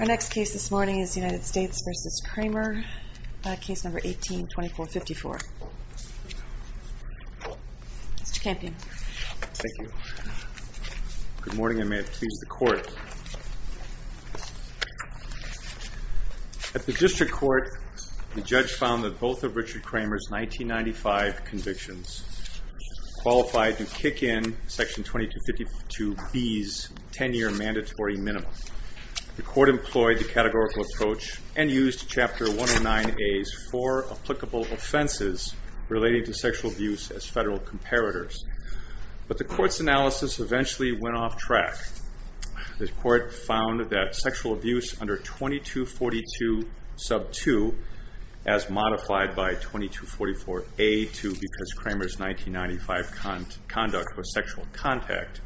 Our next case this morning is United States v. Kraemer. Case number 18-2454. Mr. Campion. Thank you. Good morning and may it please the court. At the district court, the judge found that both of Richard Kraemer's 1995 convictions qualified to kick in Section 2252B's 10-year mandatory minimum. The court employed the categorical approach and used Chapter 109A's four applicable offenses relating to sexual abuse as federal comparators. But the court's analysis eventually went off track. The court found that sexual abuse under 2242 sub 2, as modified by 2244A2 because Kraemer's 1995 conduct was sexual contact,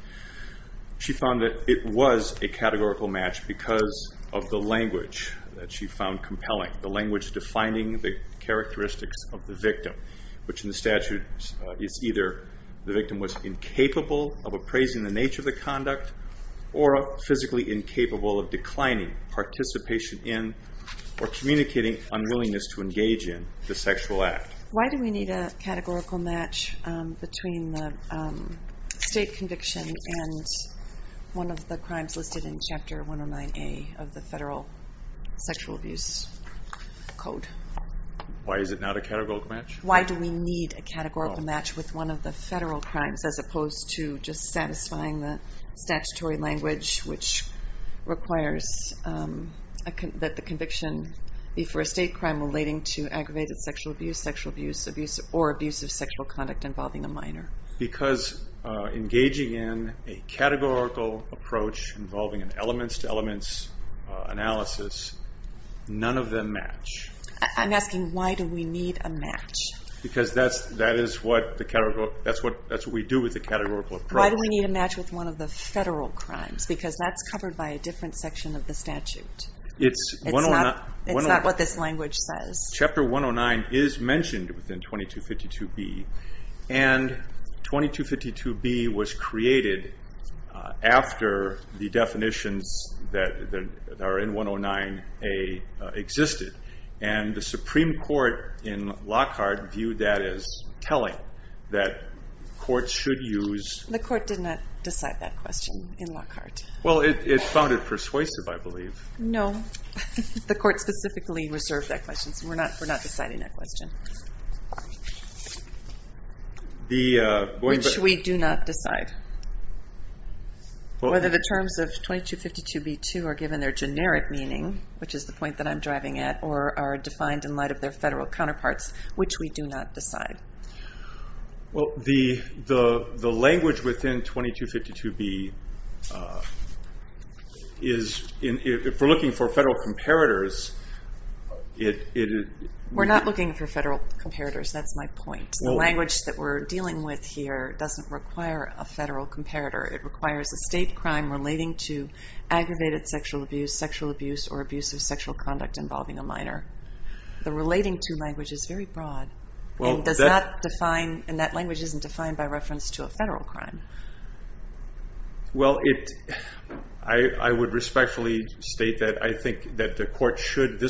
she found that it was a categorical match because of the language that she found compelling, the language defining the characteristics of the victim, which in the statute is either the victim was incapable of appraising the nature of the conduct or physically incapable of declining participation in or communicating unwillingness to engage in the sexual act. Why do we need a categorical match between the state conviction and one of the crimes listed in Chapter 109A of the federal sexual abuse code? Why is it not a categorical match? Why do we need a categorical match with one of the federal crimes as opposed to just satisfying the statutory language which requires that the conviction be for a state crime relating to aggravated sexual abuse, sexual abuse, or abusive sexual conduct involving a minor? Because engaging in a categorical approach involving an elements-to-elements analysis, none of them match. I'm asking why do we need a match? Because that's what we do with the categorical approach. Why do we need a match with one of the federal crimes? Because that's covered by a different section of the statute. It's not what this language says. Chapter 109 is mentioned within 2252B, and 2252B was created after the definitions that are in 109A existed, and the Supreme Court in Lockhart viewed that as telling that courts should use... The court did not decide that question in Lockhart. Well, it found it persuasive, I believe. No, the court specifically reserved that question, so we're not deciding that question. Which we do not decide. Whether the terms of 2252B2 are given their generic meaning, which is the point that I'm driving at, or are defined in light of their federal counterparts, which we do not decide. The language within 2252B, if we're looking for federal comparators... We're not looking for federal comparators, that's my point. The language that we're dealing with here doesn't require a federal comparator. It requires a state crime relating to aggravated sexual abuse, sexual abuse, or abuse of sexual conduct involving a minor. The relating to language is very broad. And that language isn't defined by reference to a federal crime. Well, I would respectfully state that I think that this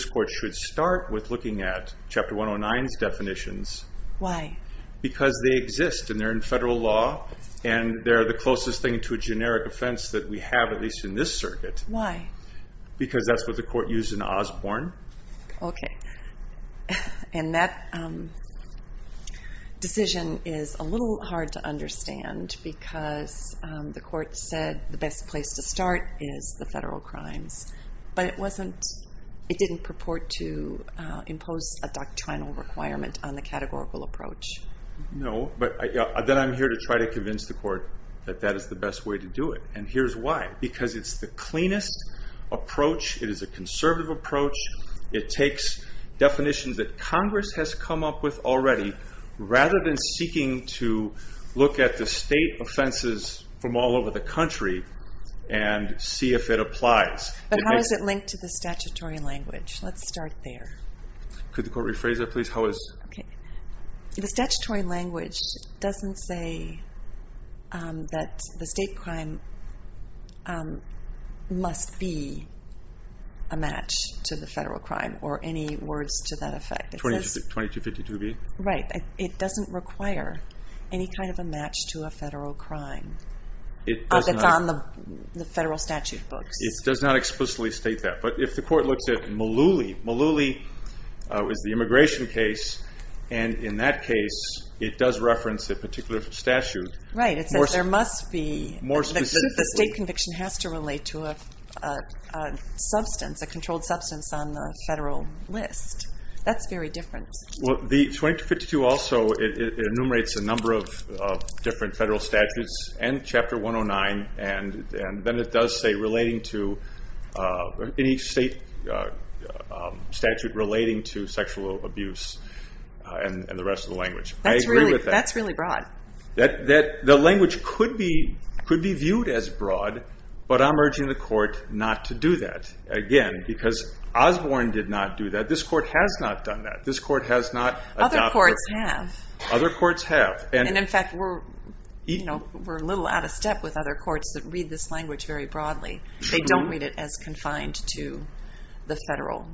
court should start with looking at Chapter 109's definitions. Why? Because they exist, and they're in federal law, and they're the closest thing to a generic offense that we have, at least in this circuit. Why? Because that's what the court used in Osborne. Okay. And that decision is a little hard to understand because the court said the best place to start is the federal crimes. But it didn't purport to impose a doctrinal requirement on the categorical approach. No, but then I'm here to try to convince the court that that is the best way to do it. And here's why. Because it's the cleanest approach. It is a conservative approach. It takes definitions that Congress has come up with already rather than seeking to look at the state offenses from all over the country and see if it applies. But how is it linked to the statutory language? Let's start there. Could the court rephrase that, please? How is it? The statutory language doesn't say that the state crime must be a match to the federal crime or any words to that effect. 2252b? Right. It doesn't require any kind of a match to a federal crime that's on the federal statute books. It does not explicitly state that. But if the court looks at Mullooly, Mullooly is the immigration case. And in that case, it does reference a particular statute. Right. It says there must be. More specifically. The state conviction has to relate to a substance, a controlled substance on the federal list. That's very different. Well, the 2252 also, it enumerates a number of different federal statutes and Chapter 109. And then it does say relating to any state statute relating to sexual abuse and the rest of the language. I agree with that. That's really broad. The language could be viewed as broad, but I'm urging the court not to do that. Again, because Osborne did not do that. This court has not done that. This court has not adopted. Other courts have. Other courts have. And in fact, we're a little out of step with other courts that read this language very broadly. They don't read it as confined to the federal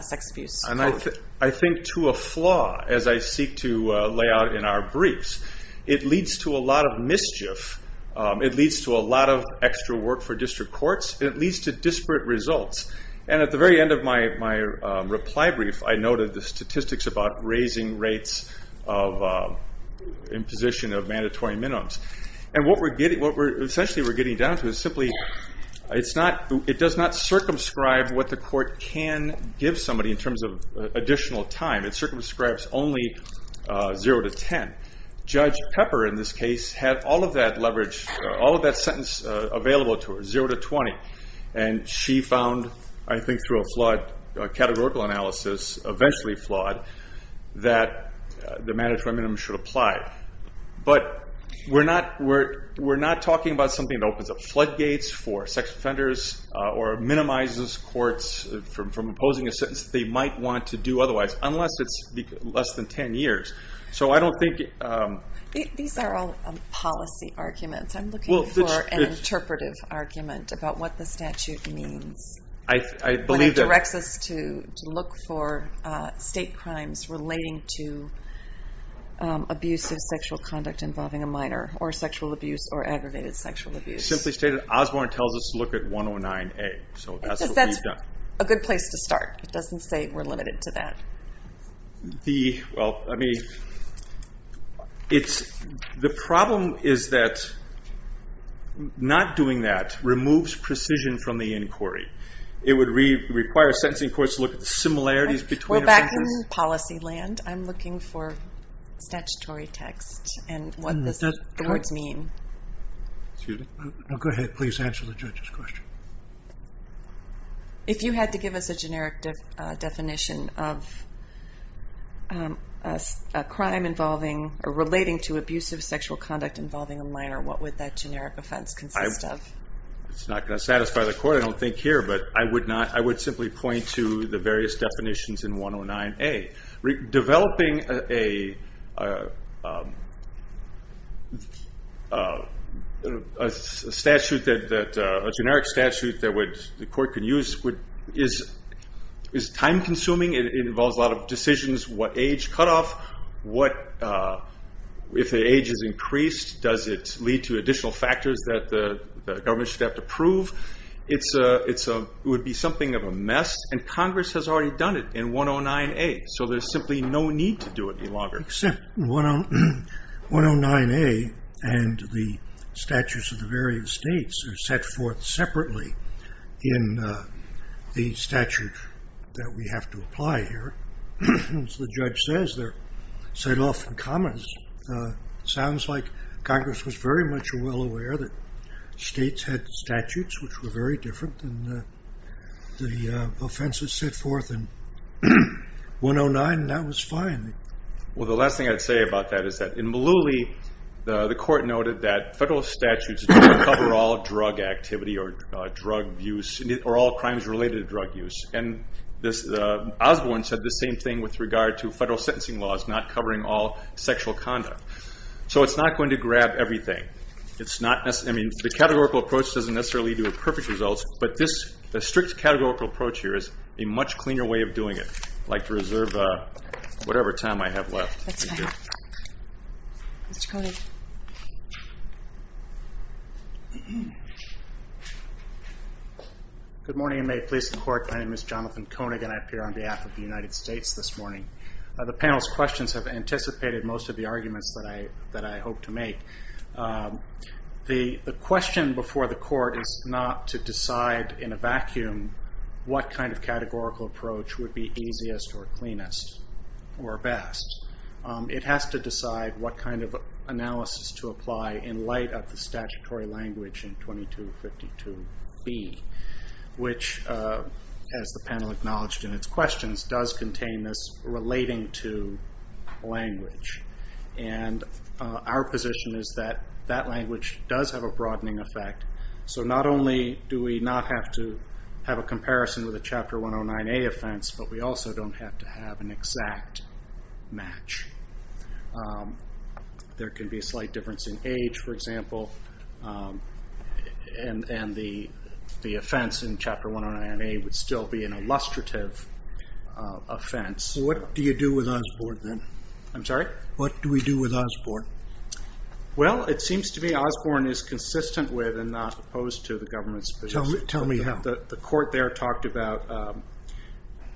sex abuse code. And I think to a flaw, as I seek to lay out in our briefs, it leads to a lot of mischief. It leads to a lot of extra work for district courts. It leads to disparate results. And at the very end of my reply brief, I noted the statistics about raising rates in position of mandatory minimums. And what essentially we're getting down to is simply it does not circumscribe what the court can give somebody in terms of additional time. It circumscribes only 0 to 10. Judge Pepper, in this case, had all of that leverage, all of that sentence available to her, 0 to 20. And she found, I think through a flawed categorical analysis, eventually flawed, that the mandatory minimum should apply. But we're not talking about something that opens up floodgates for sex offenders or minimizes courts from opposing a sentence they might want to do otherwise, unless it's less than 10 years. So I don't think... These are all policy arguments. I'm looking for an interpretive argument about what the statute means. I believe that... When it directs us to look for state crimes relating to abusive sexual conduct involving a minor or sexual abuse or aggravated sexual abuse. Simply stated, Osborne tells us to look at 109A. So that's what we've done. That's a good place to start. It doesn't say we're limited to that. The problem is that not doing that removes precision from the inquiry. It would require sentencing courts to look at the similarities between... Well, back in policy land, I'm looking for statutory text and what the words mean. Go ahead. Please answer the judge's question. If you had to give us a generic definition of a crime relating to abusive sexual conduct involving a minor, what would that generic offense consist of? It's not going to satisfy the court, I don't think, here. But I would simply point to the various definitions in 109A. Developing a generic statute that the court could use is time-consuming. It involves a lot of decisions, what age cutoff, if the age is increased, does it lead to additional factors that the government should have to prove. It would be something of a mess, and Congress has already done it in 109A. So there's simply no need to do it any longer. Except 109A and the statutes of the various states are set forth separately in the statute that we have to apply here. As the judge says, they're set off in commas. Sounds like Congress was very much well aware that states had statutes which were very different than the offenses set forth in 109, and that was fine. Well, the last thing I'd say about that is that in Malooly, the court noted that federal statutes don't cover all drug activity or all crimes related to drug use. Osborne said the same thing with regard to federal sentencing laws not covering all sexual conduct. So it's not going to grab everything. The categorical approach doesn't necessarily lead to perfect results, but the strict categorical approach here is a much cleaner way of doing it. I'd like to reserve whatever time I have left. Mr. Koenig. Good morning, and may it please the Court. My name is Jonathan Koenig, and I appear on behalf of the United States this morning. The panel's questions have anticipated most of the arguments that I hope to make. The question before the Court is not to decide in a vacuum what kind of categorical approach would be easiest or cleanest or best. It has to decide what kind of analysis to apply in light of the statutory language in 2252B, which, as the panel acknowledged in its questions, does contain this relating to language. And our position is that that language does have a broadening effect. So not only do we not have to have a comparison with a Chapter 109A offense, but we also don't have to have an exact match. There can be a slight difference in age, for example, and the offense in Chapter 109A would still be an illustrative offense. What do you do with Osborne then? I'm sorry? What do we do with Osborne? Well, it seems to me Osborne is consistent with and not opposed to the government's position. Tell me how. The Court there talked about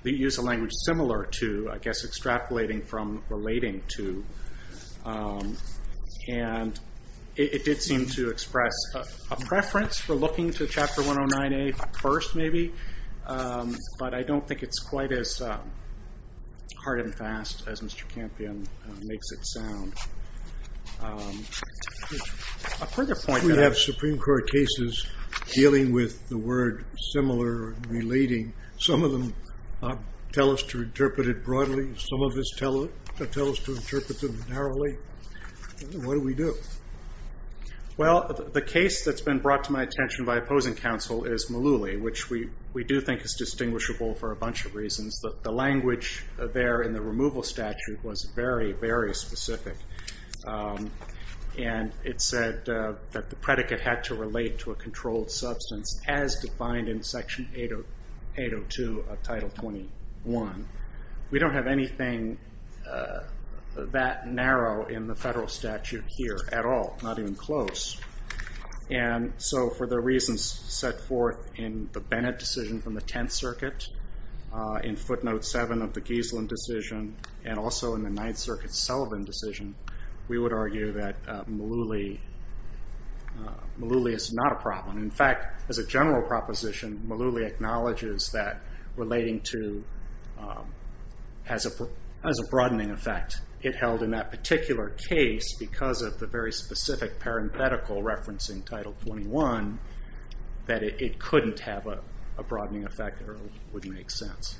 the use of language similar to, I guess, extrapolating from, relating to. And it did seem to express a preference for looking to Chapter 109A first, maybe. But I don't think it's quite as hard and fast as Mr. Campion makes it sound. A further point. We have Supreme Court cases dealing with the word similar, relating. Some of this tells us to interpret them narrowly. What do we do? Well, the case that's been brought to my attention by opposing counsel is Mullooly, which we do think is distinguishable for a bunch of reasons. The language there in the removal statute was very, very specific. And it said that the predicate had to relate to a controlled substance as defined in Section 802 of Title 21. We don't have anything that narrow in the federal statute here at all, not even close. And so for the reasons set forth in the Bennett decision from the Tenth Circuit, in footnote 7 of the Geasland decision, and also in the Ninth Circuit Sullivan decision, we would argue that Mullooly is not a problem. In fact, as a general proposition, Mullooly acknowledges that relating to as a broadening effect, it held in that particular case because of the very specific parenthetical referencing Title 21, that it couldn't have a broadening effect or it wouldn't make sense.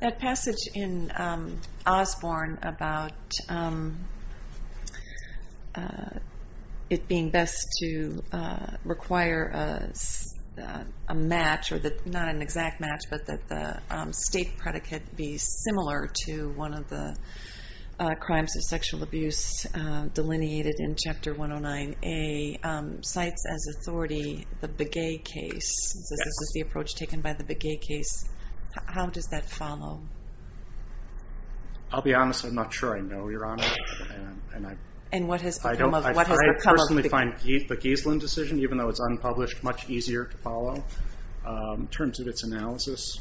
That passage in Osborne about it being best to require a match, or not an exact match, but that the state predicate be similar to one of the crimes of sexual abuse delineated in Chapter 109A, cites as authority the Begay case. This is the approach taken by the Begay case. How does that follow? I'll be honest. I'm not sure I know, Your Honor. And what has become of it? I personally find the Geasland decision, even though it's unpublished, much easier to follow in terms of its analysis.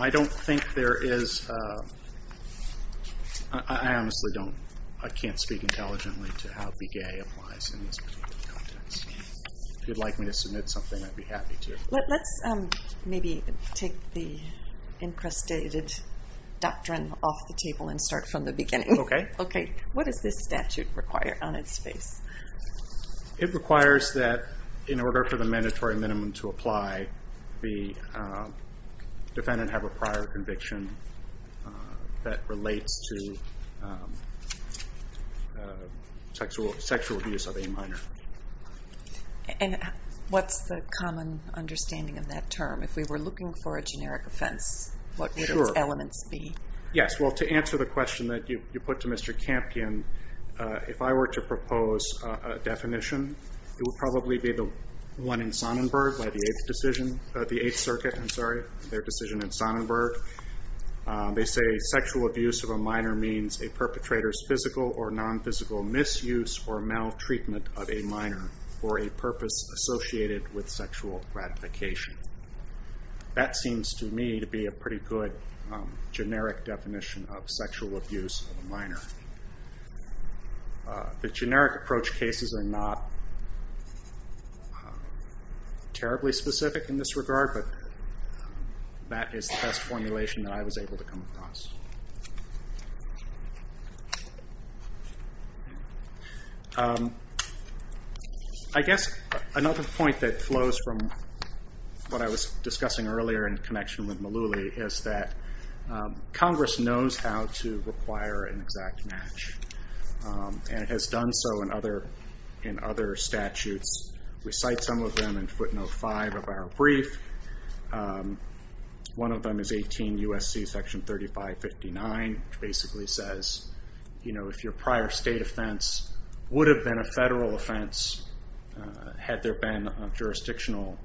I don't think there is, I honestly don't, I can't speak intelligently to how Begay applies in this particular context. If you'd like me to submit something, I'd be happy to. Let's maybe take the incrustated doctrine off the table and start from the beginning. Okay. What does this statute require on its face? It requires that in order for the mandatory minimum to apply, the defendant have a prior conviction that relates to sexual abuse of a minor. And what's the common understanding of that term? If we were looking for a generic offense, what would its elements be? Yes, well, to answer the question that you put to Mr. Campion, if I were to propose a definition, it would probably be the one in Sonnenberg by the Eighth Circuit, their decision in Sonnenberg. They say sexual abuse of a minor means a perpetrator's physical or nonphysical misuse or maltreatment of a minor for a purpose associated with sexual gratification. That seems to me to be a pretty good generic definition of sexual abuse of a minor. The generic approach cases are not terribly specific in this regard, but that is the best formulation that I was able to come across. I guess another point that flows from what I was discussing earlier in connection with Malouly is that Congress knows how to require an exact match. And it has done so in other statutes. We cite some of them in footnote five of our brief. One of them is 18 U.S.C. section 3559, which basically says if your prior state offense would have been a federal offense, had there been a jurisdictional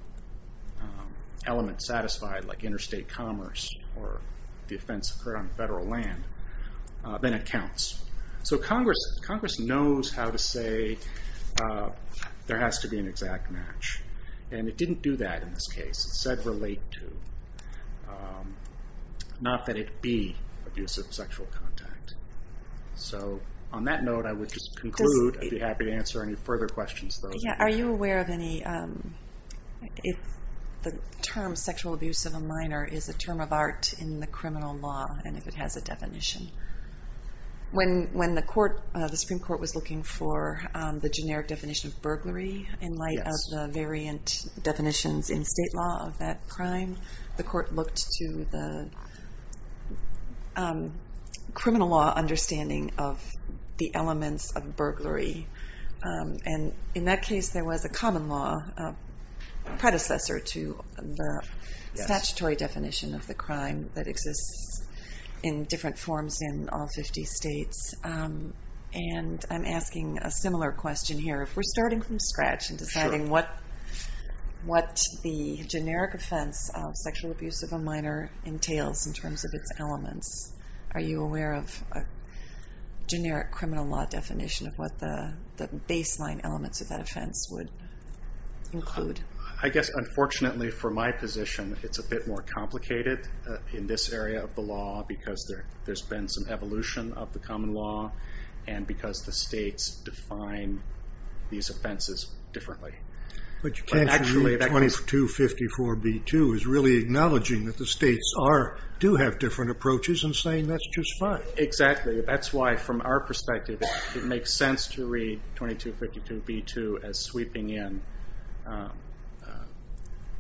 element satisfied, like interstate commerce or the offense occurred on federal land, then it counts. So Congress knows how to say there has to be an exact match. And it didn't do that in this case. It said relate to, not that it be abusive sexual contact. So on that note, I would just conclude. I'd be happy to answer any further questions. Are you aware of any, if the term sexual abuse of a minor is a term of art in the criminal law and if it has a definition? When the Supreme Court was looking for the generic definition of burglary in light of the variant definitions in state law of that crime, the court looked to the criminal law understanding of the elements of burglary. And in that case, there was a common law predecessor to the statutory definition of the crime that exists in different forms in all 50 states. And I'm asking a similar question here. If we're starting from scratch and deciding what the generic offense of sexual abuse of a minor entails in terms of its elements, are you aware of a generic criminal law definition of what the baseline elements of that offense would include? I guess unfortunately for my position, it's a bit more complicated in this area of the law because there's been some evolution of the common law and because the states define these offenses differently. But you can't read 2254b2 as really acknowledging that the states do have different approaches and saying that's just fine. Exactly. That's why from our perspective, it makes sense to read 2252b2 as sweeping in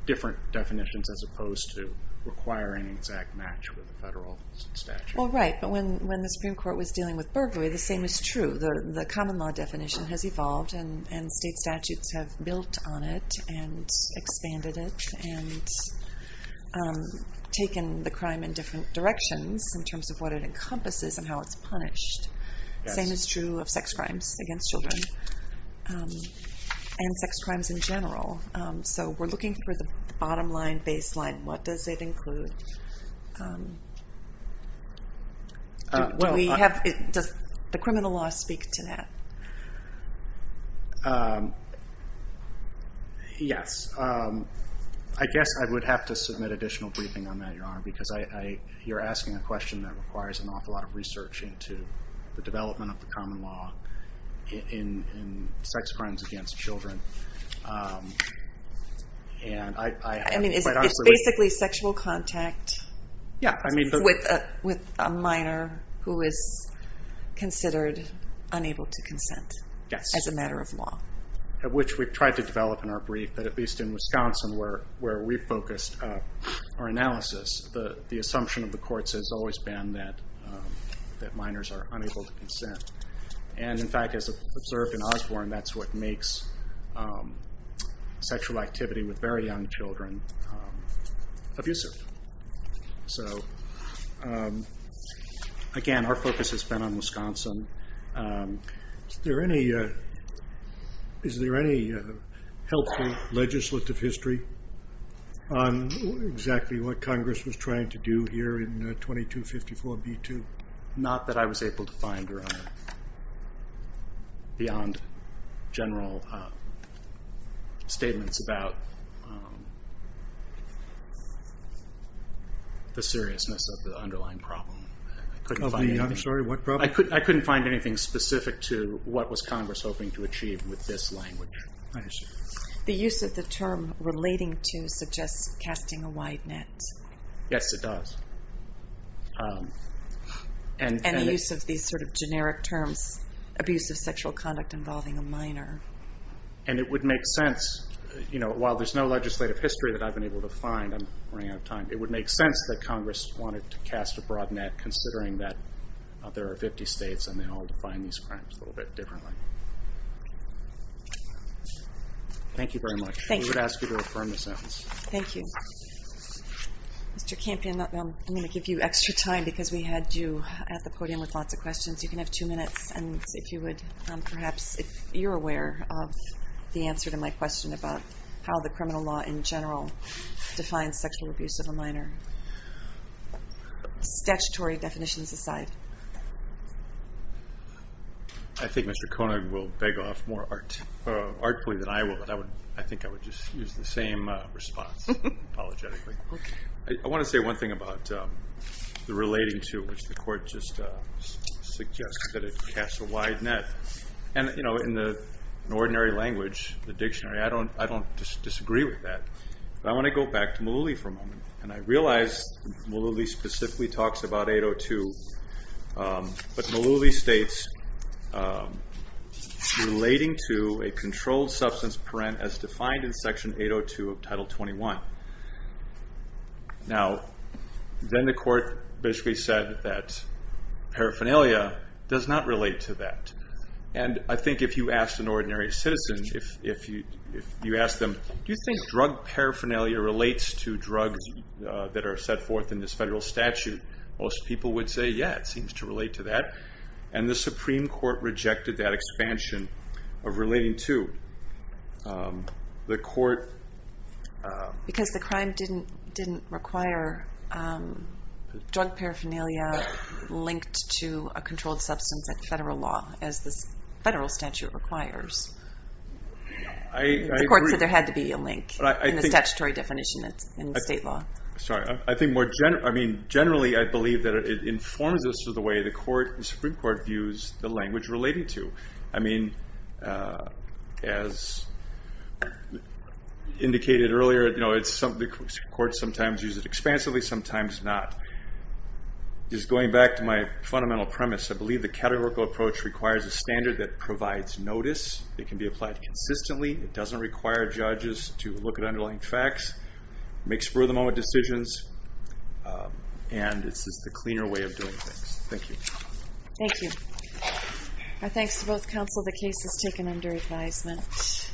different definitions as opposed to requiring an exact match with the federal statute. Well, right. But when the Supreme Court was dealing with burglary, the same is true. The common law definition has evolved and state statutes have built on it and expanded it and taken the crime in different directions in terms of what it encompasses and how it's punished. Same is true of sex crimes against children and sex crimes in general. So we're looking for the bottom line baseline. What does it include? Does the criminal law speak to that? Yes. I guess I would have to submit additional briefing on that, Your Honor, because you're asking a question that requires an awful lot of research into the development of the common law in sex crimes against children. It's basically sexual contact with a minor who is considered unable to consent as a matter of law. Which we've tried to develop in our brief, but at least in Wisconsin where we focused our analysis, the assumption of the courts has always been that minors are unable to consent. And, in fact, as observed in Osborne, that's what makes sexual activity with very young children abusive. So, again, our focus has been on Wisconsin. Is there any helpful legislative history on exactly what Congress was trying to do here in 2254b2? Not that I was able to find, Your Honor, beyond general statements about the seriousness of the underlying problem. I'm sorry, what problem? I couldn't find anything specific to what was Congress hoping to achieve with this language. I understand. The use of the term relating to suggests casting a wide net. Yes, it does. And the use of these sort of generic terms, abusive sexual conduct involving a minor. And it would make sense, you know, while there's no legislative history that I've been able to find, I'm running out of time, it would make sense that Congress wanted to cast a broad net, considering that there are 50 states and they all define these crimes a little bit differently. Thank you very much. We would ask you to affirm the sentence. Thank you. Mr. Campion, I'm going to give you extra time because we had you at the podium with lots of questions. You can have two minutes. And if you would perhaps, if you're aware of the answer to my question about how the criminal law in general defines sexual abuse of a minor, statutory definitions aside. I think Mr. Koenig will beg off more artfully than I will, but I think I would just use the same response. Apologetically. I want to say one thing about the relating to, which the court just suggested it casts a wide net. And, you know, in the ordinary language, the dictionary, I don't disagree with that. But I want to go back to Malooly for a moment. And I realize Malooly specifically talks about 802. But Malooly states relating to a controlled substance parent as defined in Section 802 of Title 21. Now, then the court basically said that paraphernalia does not relate to that. And I think if you asked an ordinary citizen, if you asked them, do you think drug paraphernalia relates to drugs that are set forth in this federal statute? Most people would say, yeah, it seems to relate to that. And the Supreme Court rejected that expansion of relating to. The court. Because the crime didn't require drug paraphernalia linked to a controlled substance in federal law as the federal statute requires. I agree. The court said there had to be a link in the statutory definition in state law. Generally, I believe that it informs us of the way the Supreme Court views the language relating to. I mean, as indicated earlier, the court sometimes uses it expansively, sometimes not. Just going back to my fundamental premise, I believe the categorical approach requires a standard that provides notice. It can be applied consistently. It doesn't require judges to look at underlying facts. It makes further decisions. And it's just a cleaner way of doing things. Thank you. Thank you. Our thanks to both counsel. The case is taken under advisement.